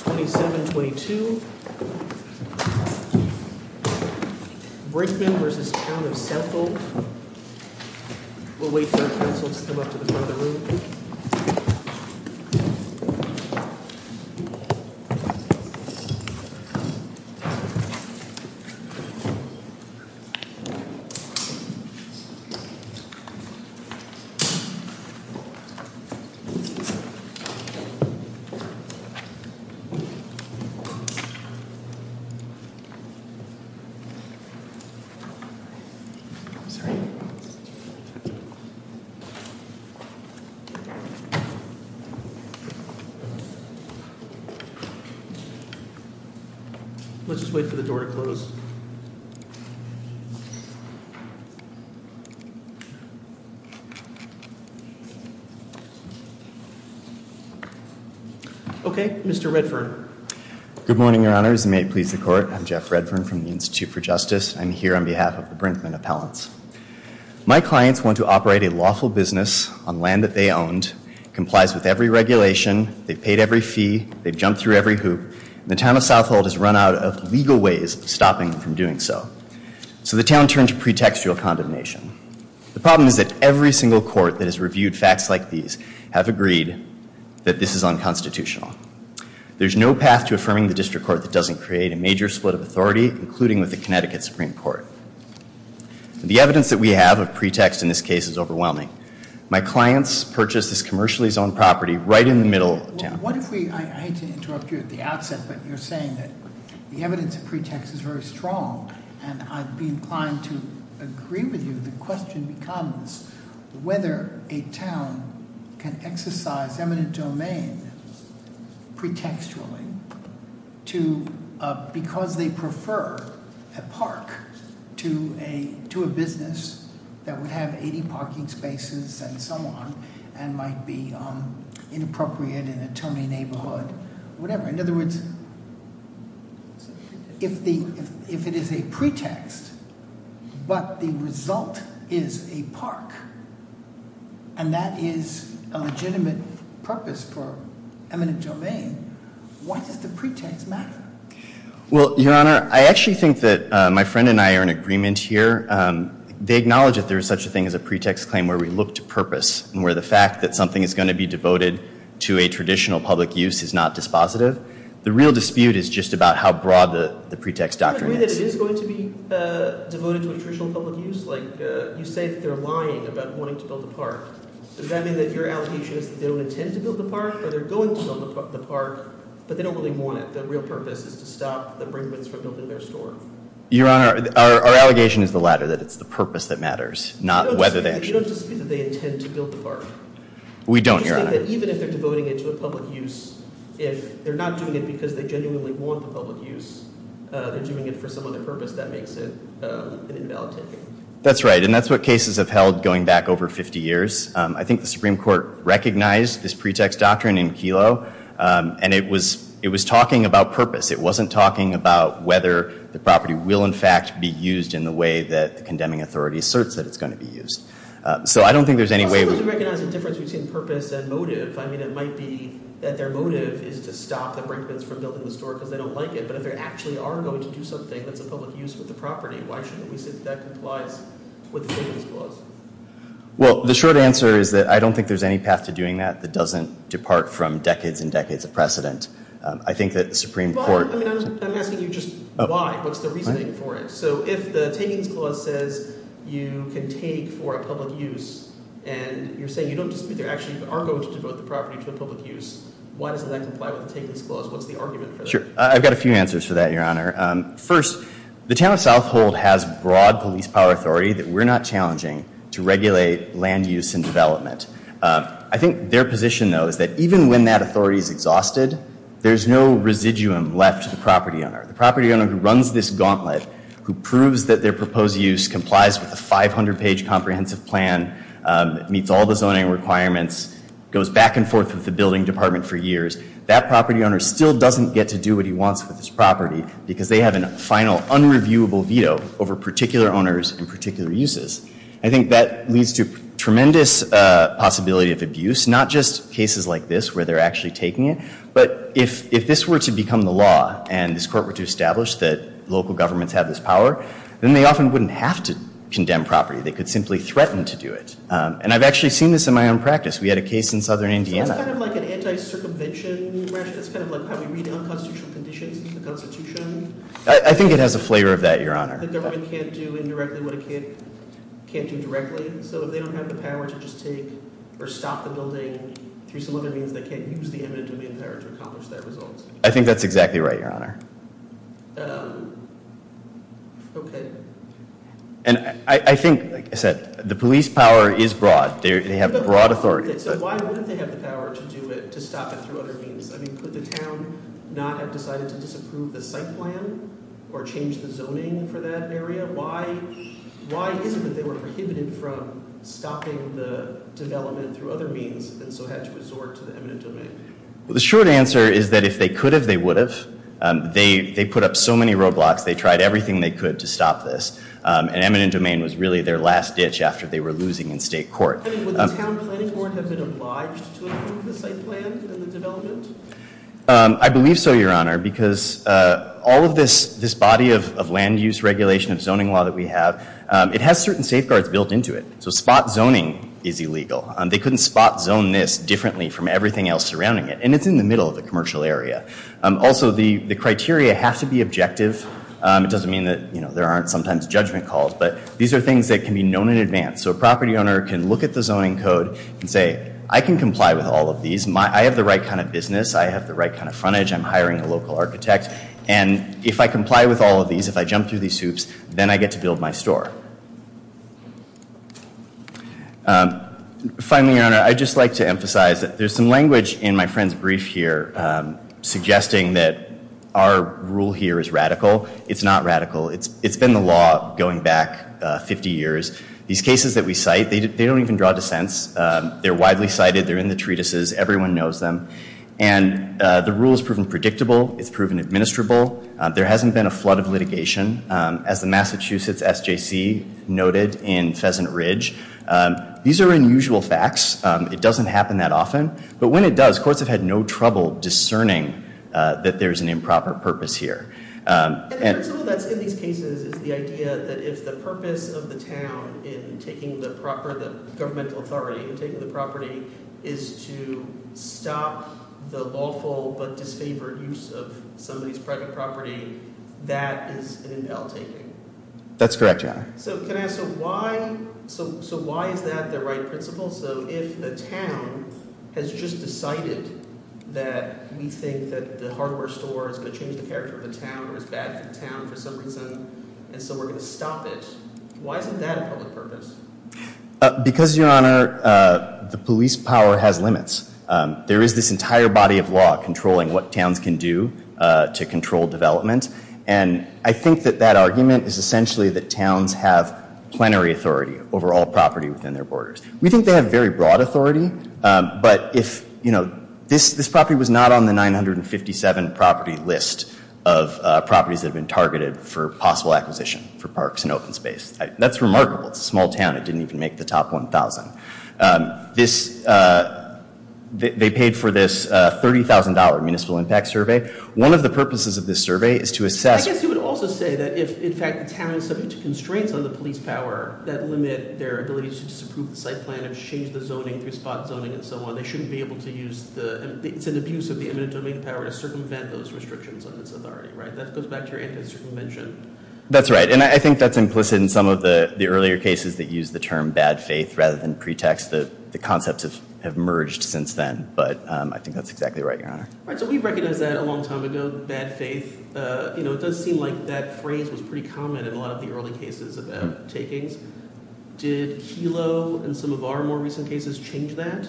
22-27-22 Brinkmann v. Town of Southhold We'll wait for our counsel to come up to the front of the room. Let's just wait for the door to close. Okay, Mr. Redfern. Good morning, Your Honors, and may it please the Court. I'm Jeff Redfern from the Institute for Justice. I'm here on behalf of the Brinkmann appellants. My clients want to operate a lawful business on land that they owned, complies with every regulation, they've paid every fee, they've jumped through every hoop, and the Town of Southhold has run out of legal ways of stopping them from doing so. So the town turned to pretextual condemnation. The problem is that every single court that has reviewed facts like these have agreed that this is unconstitutional. There's no path to affirming the district court that doesn't create a major split of authority, including with the Connecticut Supreme Court. The evidence that we have of pretext in this case is overwhelming. My clients purchased this commercially zoned property right in the middle of town. What if we, I hate to interrupt you at the outset, but you're saying that the evidence of pretext is very strong, and I'd be inclined to agree with you. The question becomes whether a town can exercise eminent domain pretextually because they prefer a park to a business that would have 80 parking spaces and so on and might be inappropriate in a towny neighborhood, whatever. In other words, if it is a pretext, but the result is a park, and that is a legitimate purpose for eminent domain, why does the pretext matter? Well, Your Honor, I actually think that my friend and I are in agreement here. They acknowledge that there is such a thing as a pretext claim where we look to purpose and where the fact that something is going to be devoted to a traditional public use is not dispositive. The real dispute is just about how broad the pretext doctrine is. Do you agree that it is going to be devoted to a traditional public use? You say that they're lying about wanting to build a park. Does that mean that your allegation is that they don't intend to build the park, or they're going to build the park, but they don't really want it? The real purpose is to stop the Brinkmans from building their store? Your Honor, our allegation is the latter, that it's the purpose that matters, not whether they actually— We don't, Your Honor. That's right, and that's what cases have held going back over 50 years. I think the Supreme Court recognized this pretext doctrine in Kelo, and it was talking about purpose. It wasn't talking about whether the property will, in fact, be used in the way that the condemning authority asserts that it's going to be used. I suppose you recognize the difference between purpose and motive. It might be that their motive is to stop the Brinkmans from building the store because they don't like it, but if they actually are going to do something that's a public use with the property, why shouldn't we say that that complies with the Tangains Clause? Well, the short answer is that I don't think there's any path to doing that that doesn't depart from decades and decades of precedent. I think that the Supreme Court— I'm asking you just why. What's the reasoning for it? So if the Tangains Clause says you can take for a public use, and you're saying you don't dispute they actually are going to devote the property to a public use, why doesn't that comply with the Tangains Clause? What's the argument for that? Sure. I've got a few answers for that, Your Honor. First, the town of South Hold has broad police power authority that we're not challenging to regulate land use and development. I think their position, though, is that even when that authority is exhausted, there's no residuum left to the property owner. The property owner who runs this gauntlet, who proves that their proposed use complies with a 500-page comprehensive plan, meets all the zoning requirements, goes back and forth with the building department for years, that property owner still doesn't get to do what he wants with his property because they have a final unreviewable veto over particular owners and particular uses. I think that leads to tremendous possibility of abuse, not just cases like this where they're actually taking it, but if this were to become the law and this court were to establish that local governments have this power, then they often wouldn't have to condemn property. They could simply threaten to do it, and I've actually seen this in my own practice. We had a case in southern Indiana. So it's kind of like an anti-circumvention measure. It's kind of like how we read unconstitutional conditions into the Constitution. I think it has a flavor of that, Your Honor. The government can't do indirectly what it can't do directly, so they don't have the power to just take or stop the building through some other means. They can't use the eminent domain power to accomplish that result. I think that's exactly right, Your Honor. I think, like I said, the police power is broad. They have broad authority. So why wouldn't they have the power to do it, to stop it through other means? Could the town not have decided to disapprove the site plan or change the zoning for that area? Why is it that they were prohibited from stopping the development through other means and so had to resort to the eminent domain? The short answer is that if they could have, they would have. They put up so many roadblocks. They tried everything they could to stop this, and eminent domain was really their last ditch after they were losing in state court. Would the town planning board have been obliged to approve the site plan and the development? I believe so, Your Honor, because all of this body of land use regulation and zoning law that we have, it has certain safeguards built into it. So spot zoning is illegal. They couldn't spot zone this differently from everything else surrounding it, and it's in the middle of the commercial area. Also, the criteria have to be objective. It doesn't mean that there aren't sometimes judgment calls, but these are things that can be known in advance. So a property owner can look at the zoning code and say, I can comply with all of these. I have the right kind of business. I have the right kind of frontage. I'm hiring a local architect. And if I comply with all of these, if I jump through these hoops, then I get to build my store. Finally, Your Honor, I'd just like to emphasize that there's some language in my friend's brief here suggesting that our rule here is radical. It's not radical. It's been the law going back 50 years. These cases that we cite, they don't even draw dissents. They're widely cited. They're in the treatises. Everyone knows them. And the rule has proven predictable. It's proven administrable. There hasn't been a flood of litigation, as the Massachusetts SJC noted in Pheasant Ridge. These are unusual facts. It doesn't happen that often. But when it does, courts have had no trouble discerning that there's an improper purpose here. And the principle that's in these cases is the idea that if the purpose of the town in taking the proper governmental authority, in taking the property, is to stop the lawful but disfavored use of somebody's private property, that is an invalidation. That's correct, Your Honor. So can I ask, so why is that the right principle? So if the town has just decided that we think that the hardware store is going to change the character of the town or is bad for the town for some reason, and so we're going to stop it, why isn't that a public purpose? Because, Your Honor, the police power has limits. There is this entire body of law controlling what towns can do to control development. And I think that that argument is essentially that towns have plenary authority over all property within their borders. We think they have very broad authority. But if, you know, this property was not on the 957 property list of properties that have been targeted for possible acquisition for parks and open space. That's remarkable. It's a small town. It didn't even make the top 1,000. They paid for this $30,000 municipal impact survey. One of the purposes of this survey is to assess. I guess you would also say that if, in fact, the town is subject to constraints on the police power that limit their ability to disapprove the site plan and change the zoning through spot zoning and so on, they shouldn't be able to use the, it's an abuse of the eminent domain power to circumvent those restrictions on its authority, right? That goes back to your anti-circumvention. That's right. And I think that's implicit in some of the earlier cases that use the term bad faith rather than pretext that the concepts have merged since then. But I think that's exactly right, Your Honor. All right, so we recognized that a long time ago, bad faith. You know, it does seem like that phrase was pretty common in a lot of the early cases about takings. Did Kelo and some of our more recent cases change that?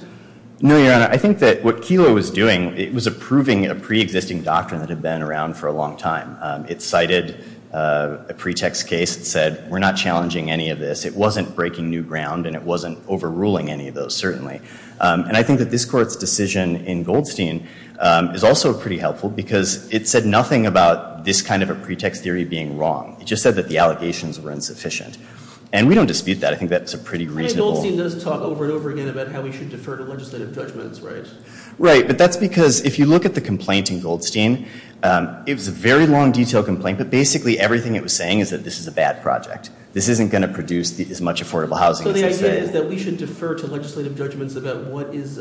No, Your Honor. I think that what Kelo was doing, it was approving a preexisting doctrine that had been around for a long time. It cited a pretext case that said, we're not challenging any of this. It wasn't breaking new ground, and it wasn't overruling any of those, certainly. And I think that this Court's decision in Goldstein is also pretty helpful because it said nothing about this kind of a pretext theory being wrong. It just said that the allegations were insufficient. And we don't dispute that. I think that's a pretty reasonable... Really, Goldstein does talk over and over again about how we should defer to legislative judgments, right? Right, but that's because if you look at the complaint in Goldstein, it was a very long, detailed complaint, but basically everything it was saying is that this is a bad project. This isn't going to produce as much affordable housing as they say. So the idea is that we should defer to legislative judgments about what is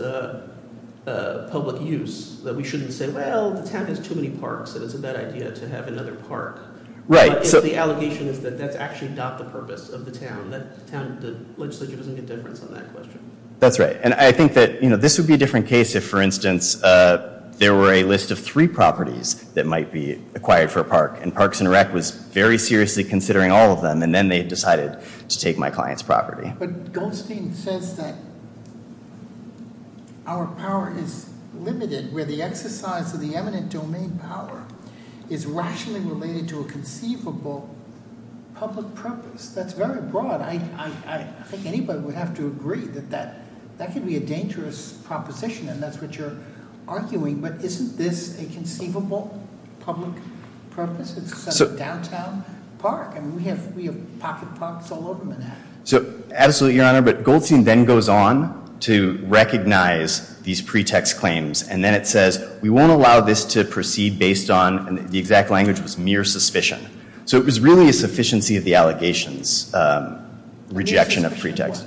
public use, that we shouldn't say, well, the town has too many parks, so it's a bad idea to have another park. Right. If the allegation is that that's actually not the purpose of the town, the legislature doesn't get a difference on that question. That's right. And I think that this would be a different case if, for instance, there were a list of three properties that might be acquired for a park, and Parks and Rec was very seriously considering all of them, and then they decided to take my client's property. But Goldstein says that our power is limited where the exercise of the eminent domain power is rationally related to a conceivable public purpose. That's very broad. I think anybody would have to agree that that could be a dangerous proposition, and that's what you're arguing. But isn't this a conceivable public purpose? It's a downtown park, and we have pocket parks all over Manhattan. Absolutely, Your Honor. But Goldstein then goes on to recognize these pretext claims, and then it says, we won't allow this to proceed based on the exact language was mere suspicion. So it was really a sufficiency of the allegations, rejection of pretext.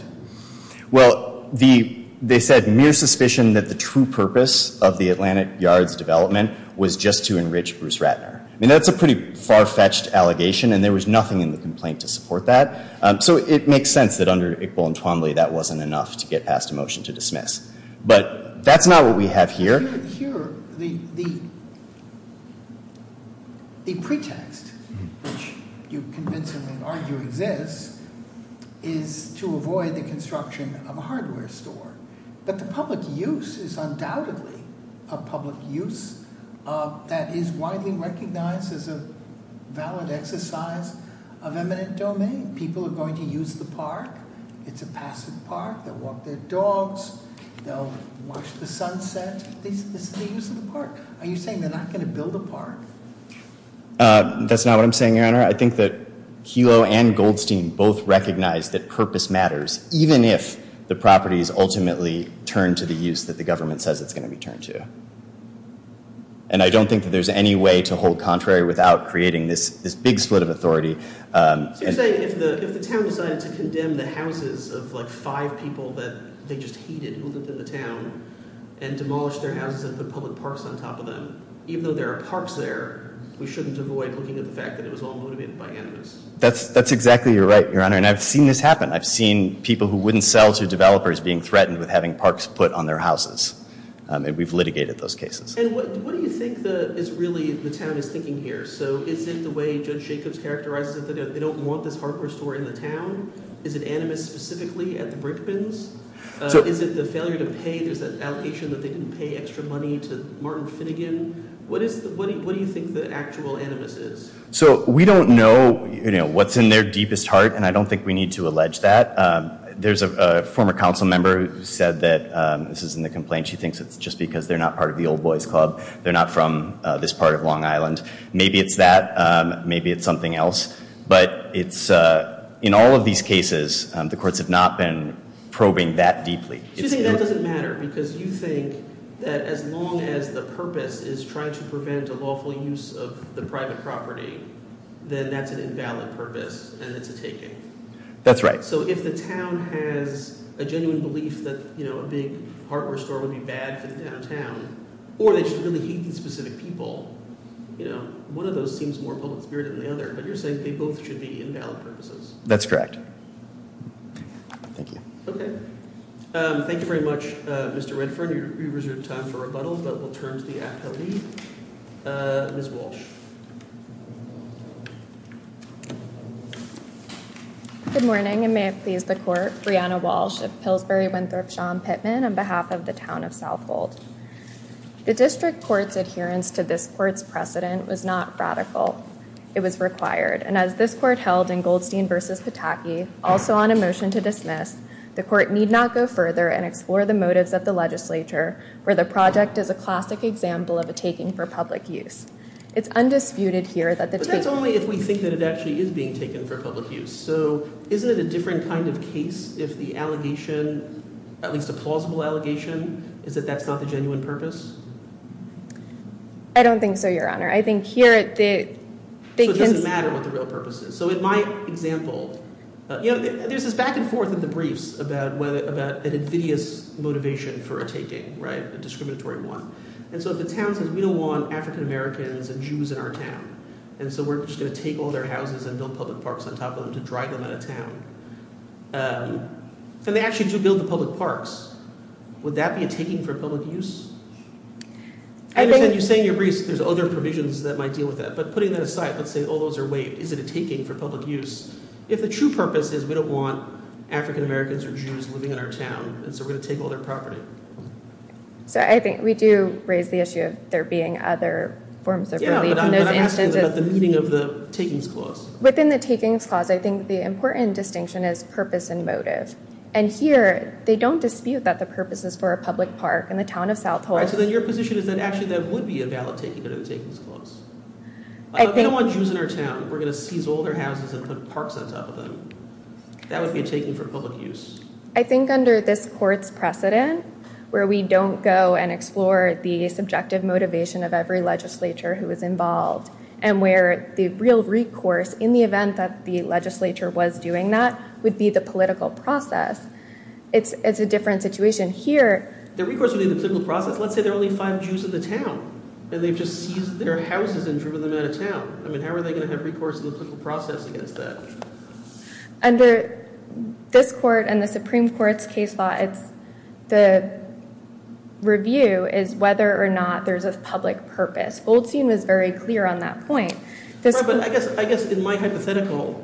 Well, they said mere suspicion that the true purpose of the Atlantic Yards development was just to enrich Bruce Ratner. I mean, that's a pretty far-fetched allegation, and there was nothing in the complaint to support that. So it makes sense that under Iqbal and Twombly that wasn't enough to get past a motion to dismiss. But that's not what we have here. Here, the pretext, which you convincingly argue exists, is to avoid the construction of a hardware store. But the public use is undoubtedly a public use that is widely recognized as a valid exercise of eminent domain. People are going to use the park. It's a passive park. They'll walk their dogs. They'll watch the sunset. This is the use of the park. Are you saying they're not going to build a park? That's not what I'm saying, Your Honor. I think that Kelo and Goldstein both recognize that purpose matters, even if the properties ultimately turn to the use that the government says it's going to be turned to. And I don't think that there's any way to hold contrary without creating this big split of authority. So you're saying if the town decided to condemn the houses of, like, five people that they just hated who lived in the town and demolished their houses and put public parks on top of them, even though there are parks there, we shouldn't avoid looking at the fact that it was all motivated by animus. That's exactly right, Your Honor. And I've seen this happen. I've seen people who wouldn't sell to developers being threatened with having parks put on their houses. And we've litigated those cases. And what do you think is really the town is thinking here? So is it the way Judge Jacobs characterized it, that they don't want this hardware store in the town? Is it animus specifically at the Brickbins? Is it the failure to pay? There's that allegation that they didn't pay extra money to Martin Finnegan. What do you think the actual animus is? So we don't know what's in their deepest heart, and I don't think we need to allege that. There's a former council member who said that this is in the complaint. She thinks it's just because they're not part of the Old Boys Club. They're not from this part of Long Island. Maybe it's that. Maybe it's something else. But in all of these cases, the courts have not been probing that deeply. So you're saying that doesn't matter, because you think that as long as the purpose is trying to prevent a lawful use of the private property, then that's an invalid purpose and it's a taking? That's right. So if the town has a genuine belief that a big hardware store would be bad for the downtown, Or they should really hate these specific people. One of those seems more public spirit than the other, but you're saying they both should be invalid purposes. That's correct. Thank you. Okay. Thank you very much, Mr. Redford. You reserved time for rebuttal, but we'll turn to the appellee. Ms. Walsh. Good morning, and may it please the court. Brianna Walsh of Pillsbury, Winthrop, Sean Pittman on behalf of the town of Southhold. The district court's adherence to this court's precedent was not radical. It was required. And as this court held in Goldstein v. Pataki, also on a motion to dismiss, the court need not go further and explore the motives of the legislature where the project is a classic example of a taking for public use. It's undisputed here that the take- But that's only if we think that it actually is being taken for public use. So isn't it a different kind of case if the allegation, at least a plausible allegation, is that that's not the genuine purpose? I don't think so, Your Honor. I think here at the- So it doesn't matter what the real purpose is. So in my example, you know, there's this back and forth in the briefs about an invidious motivation for a taking, right, a discriminatory one. And so if the town says, we don't want African Americans and Jews in our town, and so we're just going to take all their houses and build public parks on them to drive them out of town. And they actually do build the public parks. Would that be a taking for public use? I understand you're saying in your briefs there's other provisions that might deal with that, but putting that aside, let's say all those are waived. Is it a taking for public use? If the true purpose is we don't want African Americans or Jews living in our town, and so we're going to take all their property. So I think we do raise the issue of there being other forms of relief. Yeah, but I'm asking about the meaning of the takings clause. Within the takings clause, I think the important distinction is purpose and motive. And here, they don't dispute that the purpose is for a public park in the town of South Hole. So then your position is that actually that would be a valid taking of the takings clause. If we don't want Jews in our town, we're going to seize all their houses and put parks on top of them. That would be a taking for public use. I think under this court's precedent, where we don't go and explore the subjective motivation of every legislature who was involved, and where the real recourse, in the event that the legislature was doing that, would be the political process. It's a different situation here. The recourse would be the political process. Let's say there are only five Jews in the town, and they've just seized their houses and driven them out of town. How are they going to have recourse to the political process against that? Under this court and the Supreme Court's case law, the review is whether or not there's a public purpose. Goldstein was very clear on that point. I guess in my hypothetical,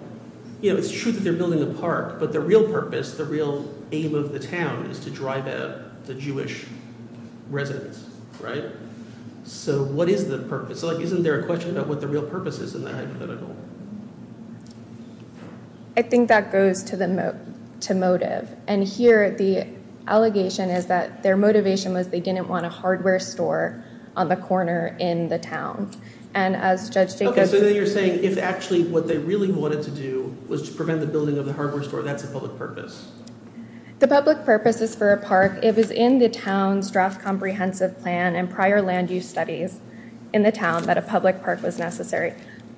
it's true that they're building a park, but the real purpose, the real aim of the town, is to drive out the Jewish residents. So what is the purpose? Isn't there a question about what the real purpose is in that hypothetical? I think that goes to motive. And here the allegation is that their motivation was they didn't want a Okay, so then you're saying if actually what they really wanted to do was to prevent the building of the hardware store, that's a public purpose. The public purpose is for a park. It was in the town's draft comprehensive plan and prior land use studies in the town that a public park was necessary.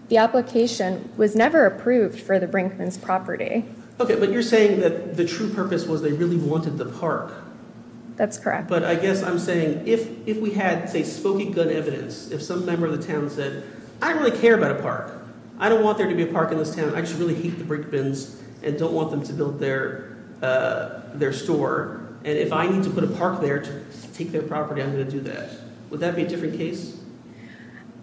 The application was never approved for the Brinkman's property. Okay, but you're saying that the true purpose was they really wanted the park. That's correct. But I guess I'm saying if we had, say, if some member of the town said, I really care about a park. I don't want there to be a park in this town. I just really hate the Brinkman's and don't want them to build their store. And if I need to put a park there to take their property, I'm going to do that. Would that be a different case?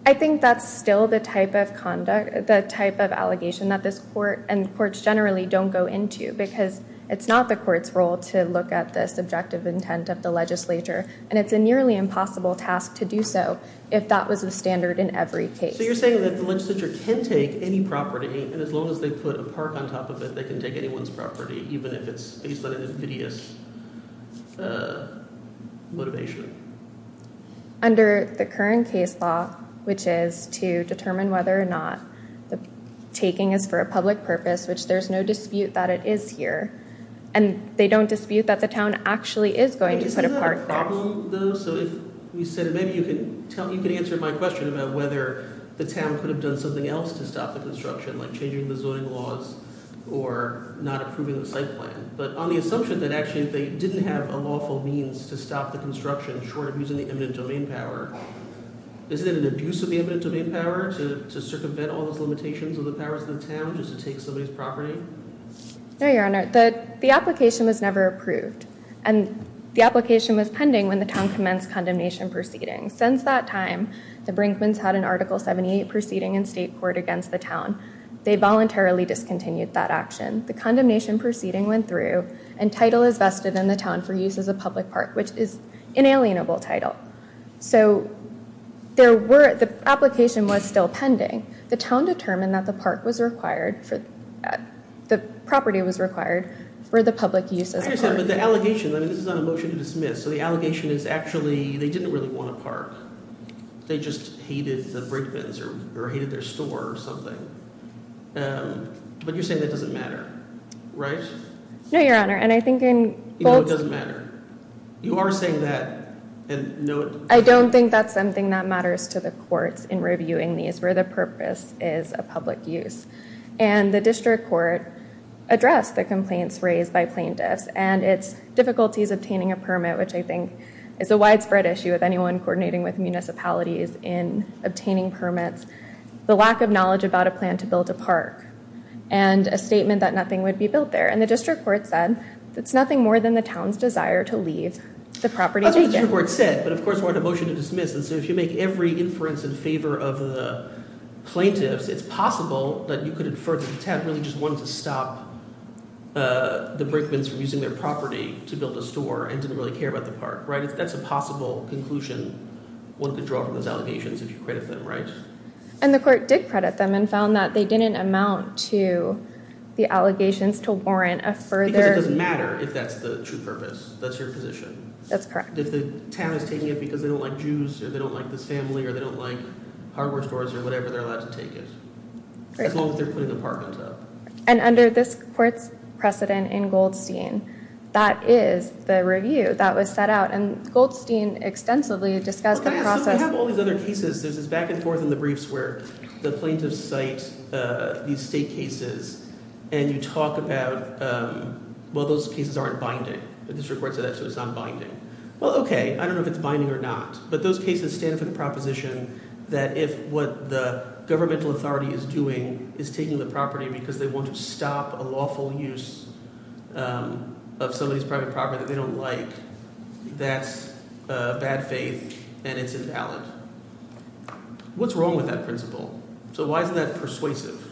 I think that's still the type of conduct, the type of allegation that this court and courts generally don't go into because it's not the court's role to look at the subjective intent of the legislature. And it's a nearly impossible task to do so if that was the standard in every case. So you're saying that the legislature can take any property, and as long as they put a park on top of it, they can take anyone's property, even if it's based on an invidious motivation. Under the current case law, which is to determine whether or not the taking is for a public purpose, which there's no dispute that it is here, and they don't dispute that the town actually is going to put a park there. Is that a problem, though? So if you said maybe you could answer my question about whether the town could have done something else to stop the construction, like changing the zoning laws or not approving the site plan. But on the assumption that actually they didn't have a lawful means to stop the construction short of using the eminent domain power, isn't it an abuse of the eminent domain power to circumvent all those limitations of the powers of the town just to take somebody's property? No, Your Honor. The application was never approved, and the application was pending when the town commenced condemnation proceedings. Since that time, the Brinkmans had an Article 78 proceeding in state court against the town. They voluntarily discontinued that action. The condemnation proceeding went through, and title is vested in the town for use as a public park, which is inalienable title. So the application was still pending. The town determined that the property was required for the public use as a park. But the allegation, this is not a motion to dismiss, so the allegation is actually they didn't really want a park. They just hated the Brinkmans or hated their store or something. But you're saying that doesn't matter, right? No, Your Honor, and I think in both... You know it doesn't matter. You are saying that and know it... I don't think that's something that matters to the courts in reviewing these where the purpose is a public use. And the district court addressed the complaints raised by plaintiffs, and its difficulties obtaining a permit, which I think is a widespread issue with anyone coordinating with municipalities in obtaining permits, the lack of knowledge about a plan to build a park, and a statement that nothing would be built there. And the district court said, it's nothing more than the town's desire to leave the property taken. That's what the district court said, but of course it wasn't a motion to dismiss. And so if you make every inference in favor of the plaintiffs, it's possible that you could infer that the town really just wanted to stop the Brickmans from using their property to build a store and didn't really care about the park, right? That's a possible conclusion one could draw from those allegations if you credit them, right? And the court did credit them and found that they didn't amount to the allegations to warrant a further... Because it doesn't matter if that's the true purpose. That's your position. That's correct. If the town is taking it because they don't like Jews, or they don't like the family, or they don't like hardware stores or whatever, they're allowed to take it. As long as they're putting the park on top. And under this court's precedent in Goldstein, that is the review that was set out. And Goldstein extensively discussed the process... Well, can I ask, so we have all these other cases. There's this back and forth in the briefs where the plaintiffs cite these state cases and you talk about, well, those cases aren't binding. The district court said that, so it's not binding. Well, okay. I don't know if it's binding or not, but those cases stand for the proposition that if what the governmental authority is doing is taking the property because they want to stop a lawful use of somebody's private property that they don't like, that's bad faith and it's invalid. What's wrong with that principle? So why isn't that persuasive?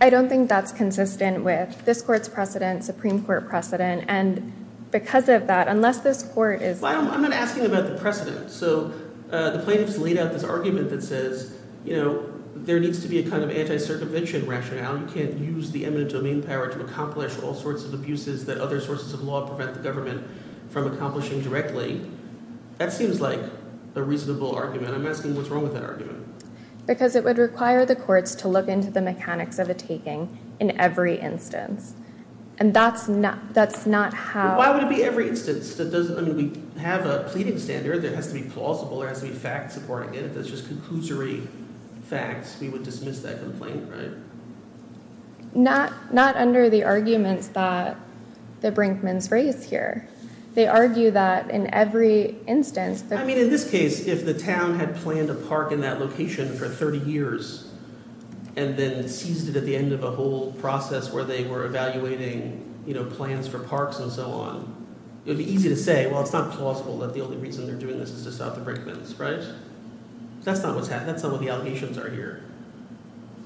I don't think that's consistent with this court's precedent, Supreme Court precedent. And because of that, unless this court is... I'm not asking about the precedent. So the plaintiffs laid out this argument that says, you know, there needs to be a kind of anti-circumvention rationale. You can't use the eminent domain power to accomplish all sorts of abuses that other sources of law prevent the government from accomplishing directly. That seems like a reasonable argument. I'm asking what's wrong with that argument. Because it would require the courts to look into the mechanics of a taking in every instance. And that's not how... Why would it be every instance? I mean, we have a pleading standard that has to be plausible. It has to be fact-supporting. And if it's just conclusory facts, we would dismiss that complaint, right? Not under the arguments that the Brinkmans raise here. They argue that in every instance... I mean, in this case, if the town had planned a park in that location for 30 years and then seized it at the end of a whole process where they were It's easy to say, well, it's not plausible that the only reason they're doing this is to stop the Brinkmans, right? That's not what's happening. That's not what the allegations are here.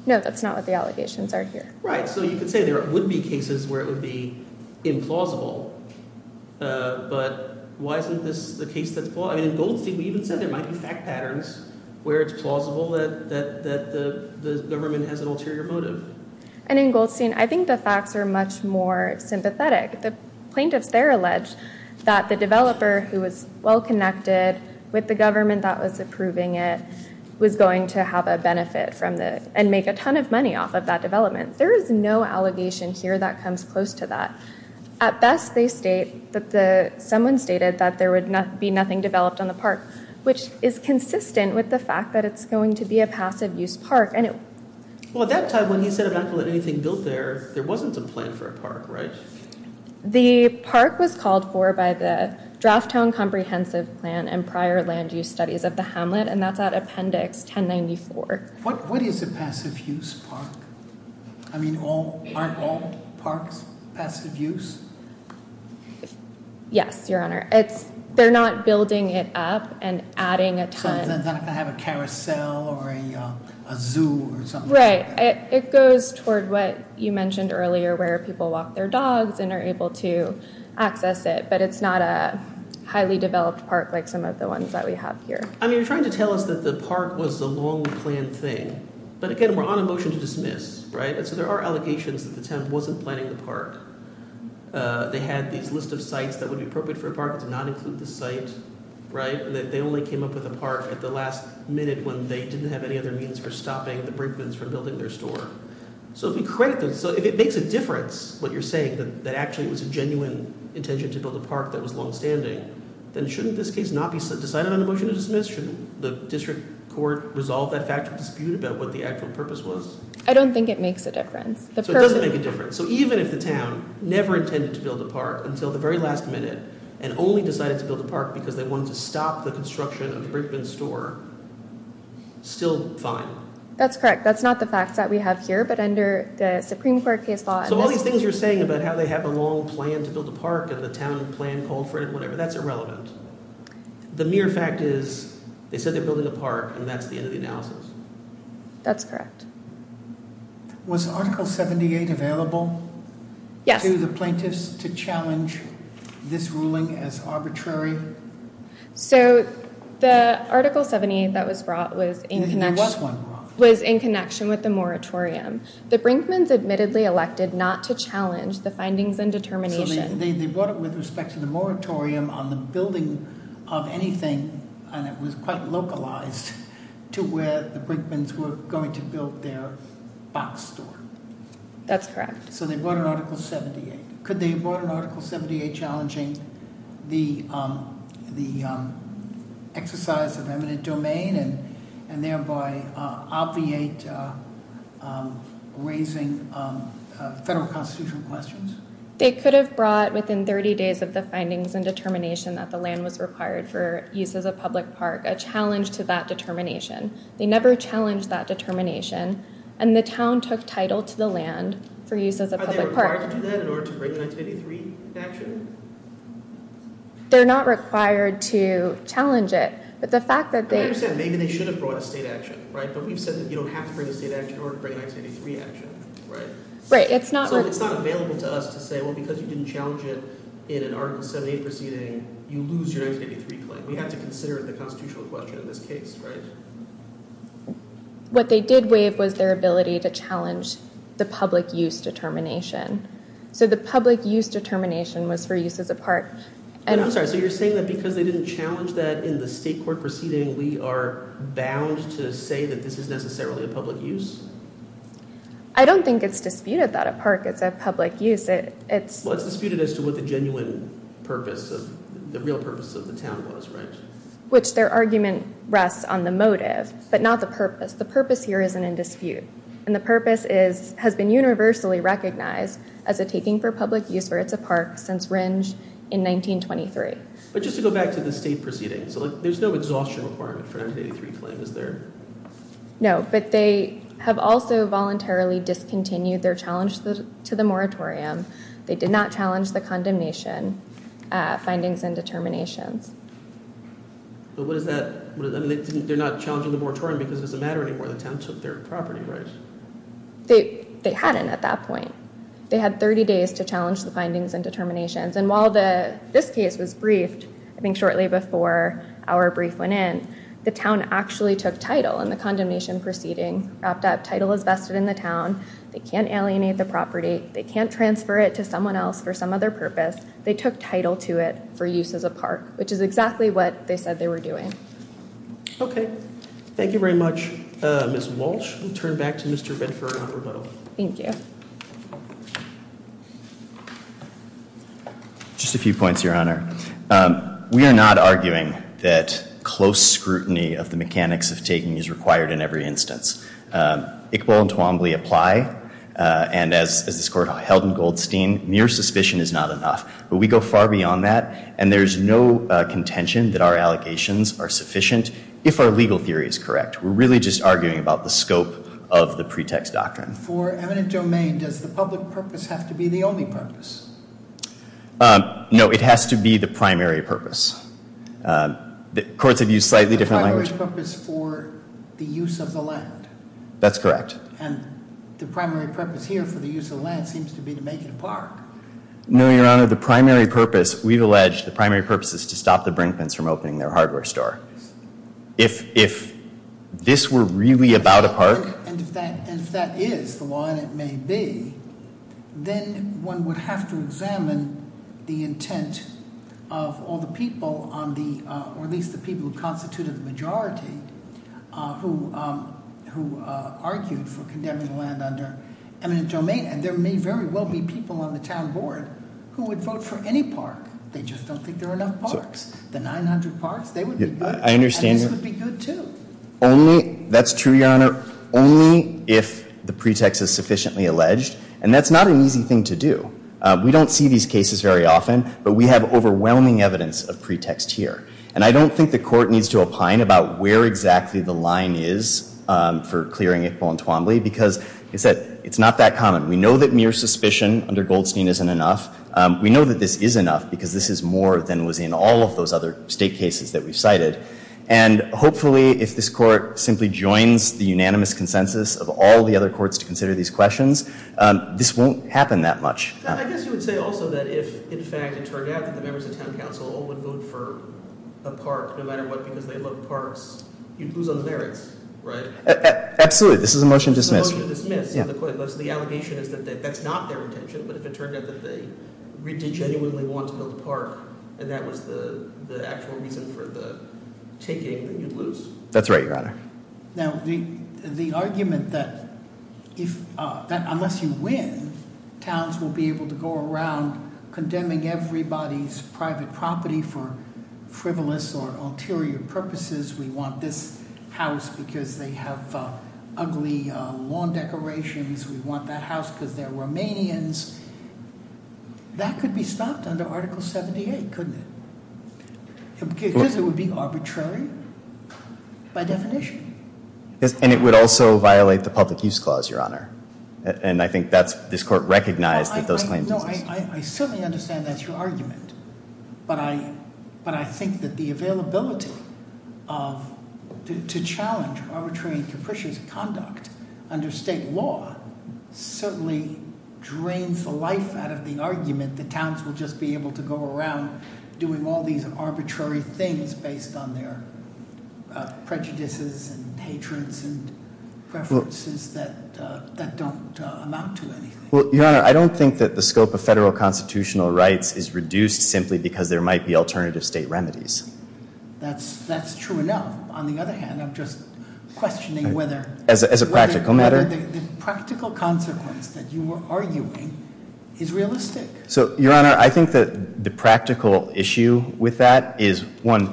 No, that's not what the allegations are here. Right. So you could say there would be cases where it would be implausible. But why isn't this the case that's plausible? I mean, in Goldstein, we even said there might be fact patterns where it's plausible that the government has an ulterior motive. And in Goldstein, I think the facts are much more sympathetic. The plaintiffs there allege that the developer who was well-connected with the government that was approving it was going to have a benefit and make a ton of money off of that development. There is no allegation here that comes close to that. At best, they state that someone stated that there would be nothing developed on the park, which is consistent with the fact that it's going to be a passive-use park. Well, at that time, when he said, I'm not going to let anything build there, there wasn't a plan for a park, right? The park was called for by the Draft Town Comprehensive Plan and prior land use studies of the Hamlet, and that's at Appendix 1094. What is a passive-use park? I mean, aren't all parks passive-use? Yes, Your Honor. They're not building it up and adding a ton. So it's not going to have a carousel or a zoo or something like that. Right. It goes toward what you mentioned earlier, where people walk their dogs and are able to access it, but it's not a highly-developed park like some of the ones that we have here. I mean, you're trying to tell us that the park was a long-planned thing. But, again, we're on a motion to dismiss, right? And so there are allegations that the town wasn't planning the park. They had these list of sites that would be appropriate for a park. It did not include the site, right? They only came up with a park at the last minute when they didn't have any other means for stopping the Brinkmans from building their store. So if we credit them, so if it makes a difference what you're saying, that actually it was a genuine intention to build a park that was longstanding, then shouldn't this case not be decided on a motion to dismiss? Shouldn't the district court resolve that fact to dispute about what the actual purpose was? I don't think it makes a difference. So it doesn't make a difference. So even if the town never intended to build a park until the very last minute and only decided to build a park because they wanted to stop the construction of Brinkman's store, still fine. That's correct. That's not the fact that we have here, but under the Supreme Court case law. So all these things you're saying about how they have a long plan to build a park and the town plan called for it, whatever, that's irrelevant. The mere fact is they said they're building a park, and that's the end of the analysis. That's correct. Was Article 78 available to the plaintiffs to challenge this ruling as arbitrary? So the Article 78 that was brought was in connection with the moratorium. The Brinkman's admittedly elected not to challenge the findings and determination. So they brought it with respect to the moratorium on the building of anything, and it was quite localized to where the Brinkman's were going to build their box store. That's correct. So they brought in Article 78. Could they have brought in Article 78 challenging the exercise of eminent domain and thereby obviate raising federal constitutional questions? They could have brought within 30 days of the findings and determination that the land was required for use as a public park a challenge to that determination. They never challenged that determination, and the town took title to the land for use as a public park. Were they required to do that in order to bring the 1983 action? They're not required to challenge it. I understand. Maybe they should have brought a state action, right? But we've said that you don't have to bring a state action in order to bring a 1983 action, right? So it's not available to us to say, well, because you didn't challenge it in an Article 78 proceeding, you lose your 1983 claim. We have to consider the constitutional question in this case, right? What they did waive was their ability to challenge the public use determination. So the public use determination was for use as a park. I'm sorry. So you're saying that because they didn't challenge that in the state court proceeding, we are bound to say that this is necessarily a public use? I don't think it's disputed that a park is a public use. It's disputed as to what the genuine purpose of the real purpose of the town was, right? Which their argument rests on the motive, but not the purpose. The purpose here isn't in dispute. And the purpose has been universally recognized as a taking for public use where it's a park since Rindge in 1923. But just to go back to the state proceedings, there's no exhaustion requirement for 1983 claim, is there? No. But they have also voluntarily discontinued their challenge to the moratorium. They did not challenge the condemnation findings and determinations. But what is that? They're not challenging the moratorium because it doesn't matter anymore. The town took their property rights. They hadn't at that point. They had 30 days to challenge the findings and determinations. And while this case was briefed, I think shortly before our brief went in, the town actually took title and the condemnation proceeding wrapped up. Title is vested in the town. They can't alienate the property. They can't transfer it to someone else for some other purpose. They took title to it for use as a park, which is exactly what they said they were doing. Okay. Thank you very much. Ms. Walsh, we'll turn back to Mr. Bedford on rebuttal. Thank you. Just a few points, Your Honor. We are not arguing that close scrutiny of the mechanics of taking is required in every instance. Iqbal and Twombly apply. And as this court held in Goldstein, mere suspicion is not enough. But we go far beyond that. And there's no contention that our allegations are sufficient, if our legal theory is correct. We're really just arguing about the scope of the pretext doctrine. For eminent domain, does the public purpose have to be the only purpose? No, it has to be the primary purpose. Courts have used slightly different language. The primary purpose for the use of the land. That's correct. And the primary purpose here for the use of the land seems to be to make it a park. No, Your Honor. The primary purpose, we've alleged, the primary purpose is to stop the Brinkman's from opening their hardware store. If this were really about a park. And if that is the law, and it may be, then one would have to examine the intent of all the people on the, or at least the people who constituted the majority, who argued for condemning the land under eminent domain. And there may very well be people on the town board who would vote for any park. They just don't think there are enough parks. The 900 parks, they would be good. I understand. And this would be good too. Only, that's true, Your Honor. Only if the pretext is sufficiently alleged. And that's not an easy thing to do. We don't see these cases very often. But we have overwhelming evidence of pretext here. And I don't think the court needs to opine about where exactly the line is for clearing Iqbal and Twombly, because it's not that common. We know that mere suspicion under Goldstein isn't enough. We know that this is enough, because this is more than was in all of those other state cases that we've cited. And hopefully, if this court simply joins the unanimous consensus of all the other courts to consider these questions, this won't happen that much. I guess you would say also that if, in fact, it turned out that the members of town council all would vote for a park, no matter what, because they love parks, you'd lose on the merits, right? Absolutely. This is a motion to dismiss. This is a motion to dismiss. So the allegation is that that's not their intention. But if it turned out that they genuinely want to build a park, and that was the actual reason for the taking, then you'd lose. That's right, Your Honor. Now, the argument that unless you win, towns will be able to go around condemning everybody's private property for frivolous or ulterior purposes. We want this house because they have ugly lawn decorations. We want that house because they're Romanians. That could be stopped under Article 78, couldn't it? Because it would be arbitrary by definition. And it would also violate the Public Use Clause, Your Honor. And I think this court recognized that those claims exist. No, I certainly understand that's your argument. But I think that the availability to challenge arbitrary and capricious conduct under state law certainly drains the life out of the argument that towns will just be able to go around doing all these arbitrary things based on their prejudices and hatreds and preferences that don't amount to anything. Well, Your Honor, I don't think that the scope of federal constitutional rights is reduced simply because there might be alternative state remedies. That's true enough. On the other hand, I'm just questioning whether- As a practical matter. Whether the practical consequence that you were arguing is realistic. So, Your Honor, I think that the practical issue with that is, one,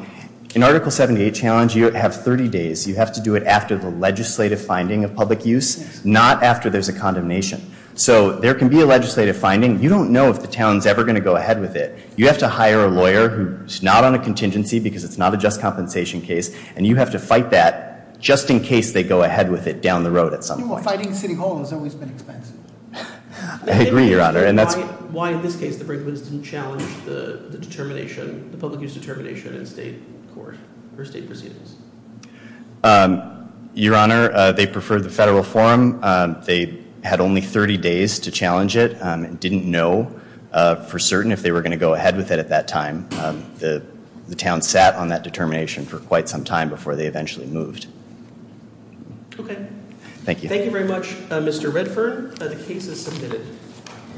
in Article 78 challenge, you have 30 days. You have to do it after the legislative finding of public use, not after there's a condemnation. So there can be a legislative finding. You don't know if the town's ever going to go ahead with it. You have to hire a lawyer who's not on a contingency because it's not a just compensation case. And you have to fight that just in case they go ahead with it down the road at some point. Well, fighting city hall has always been expensive. I agree, Your Honor. Why, in this case, the Brinkman's didn't challenge the determination, the public use determination in state court or state proceedings? Your Honor, they preferred the federal forum. They had only 30 days to challenge it and didn't know for certain if they were going to go ahead with it at that time. The town sat on that determination for quite some time before they eventually moved. Okay. Thank you. Thank you very much, Mr. Redfern. The case is submitted.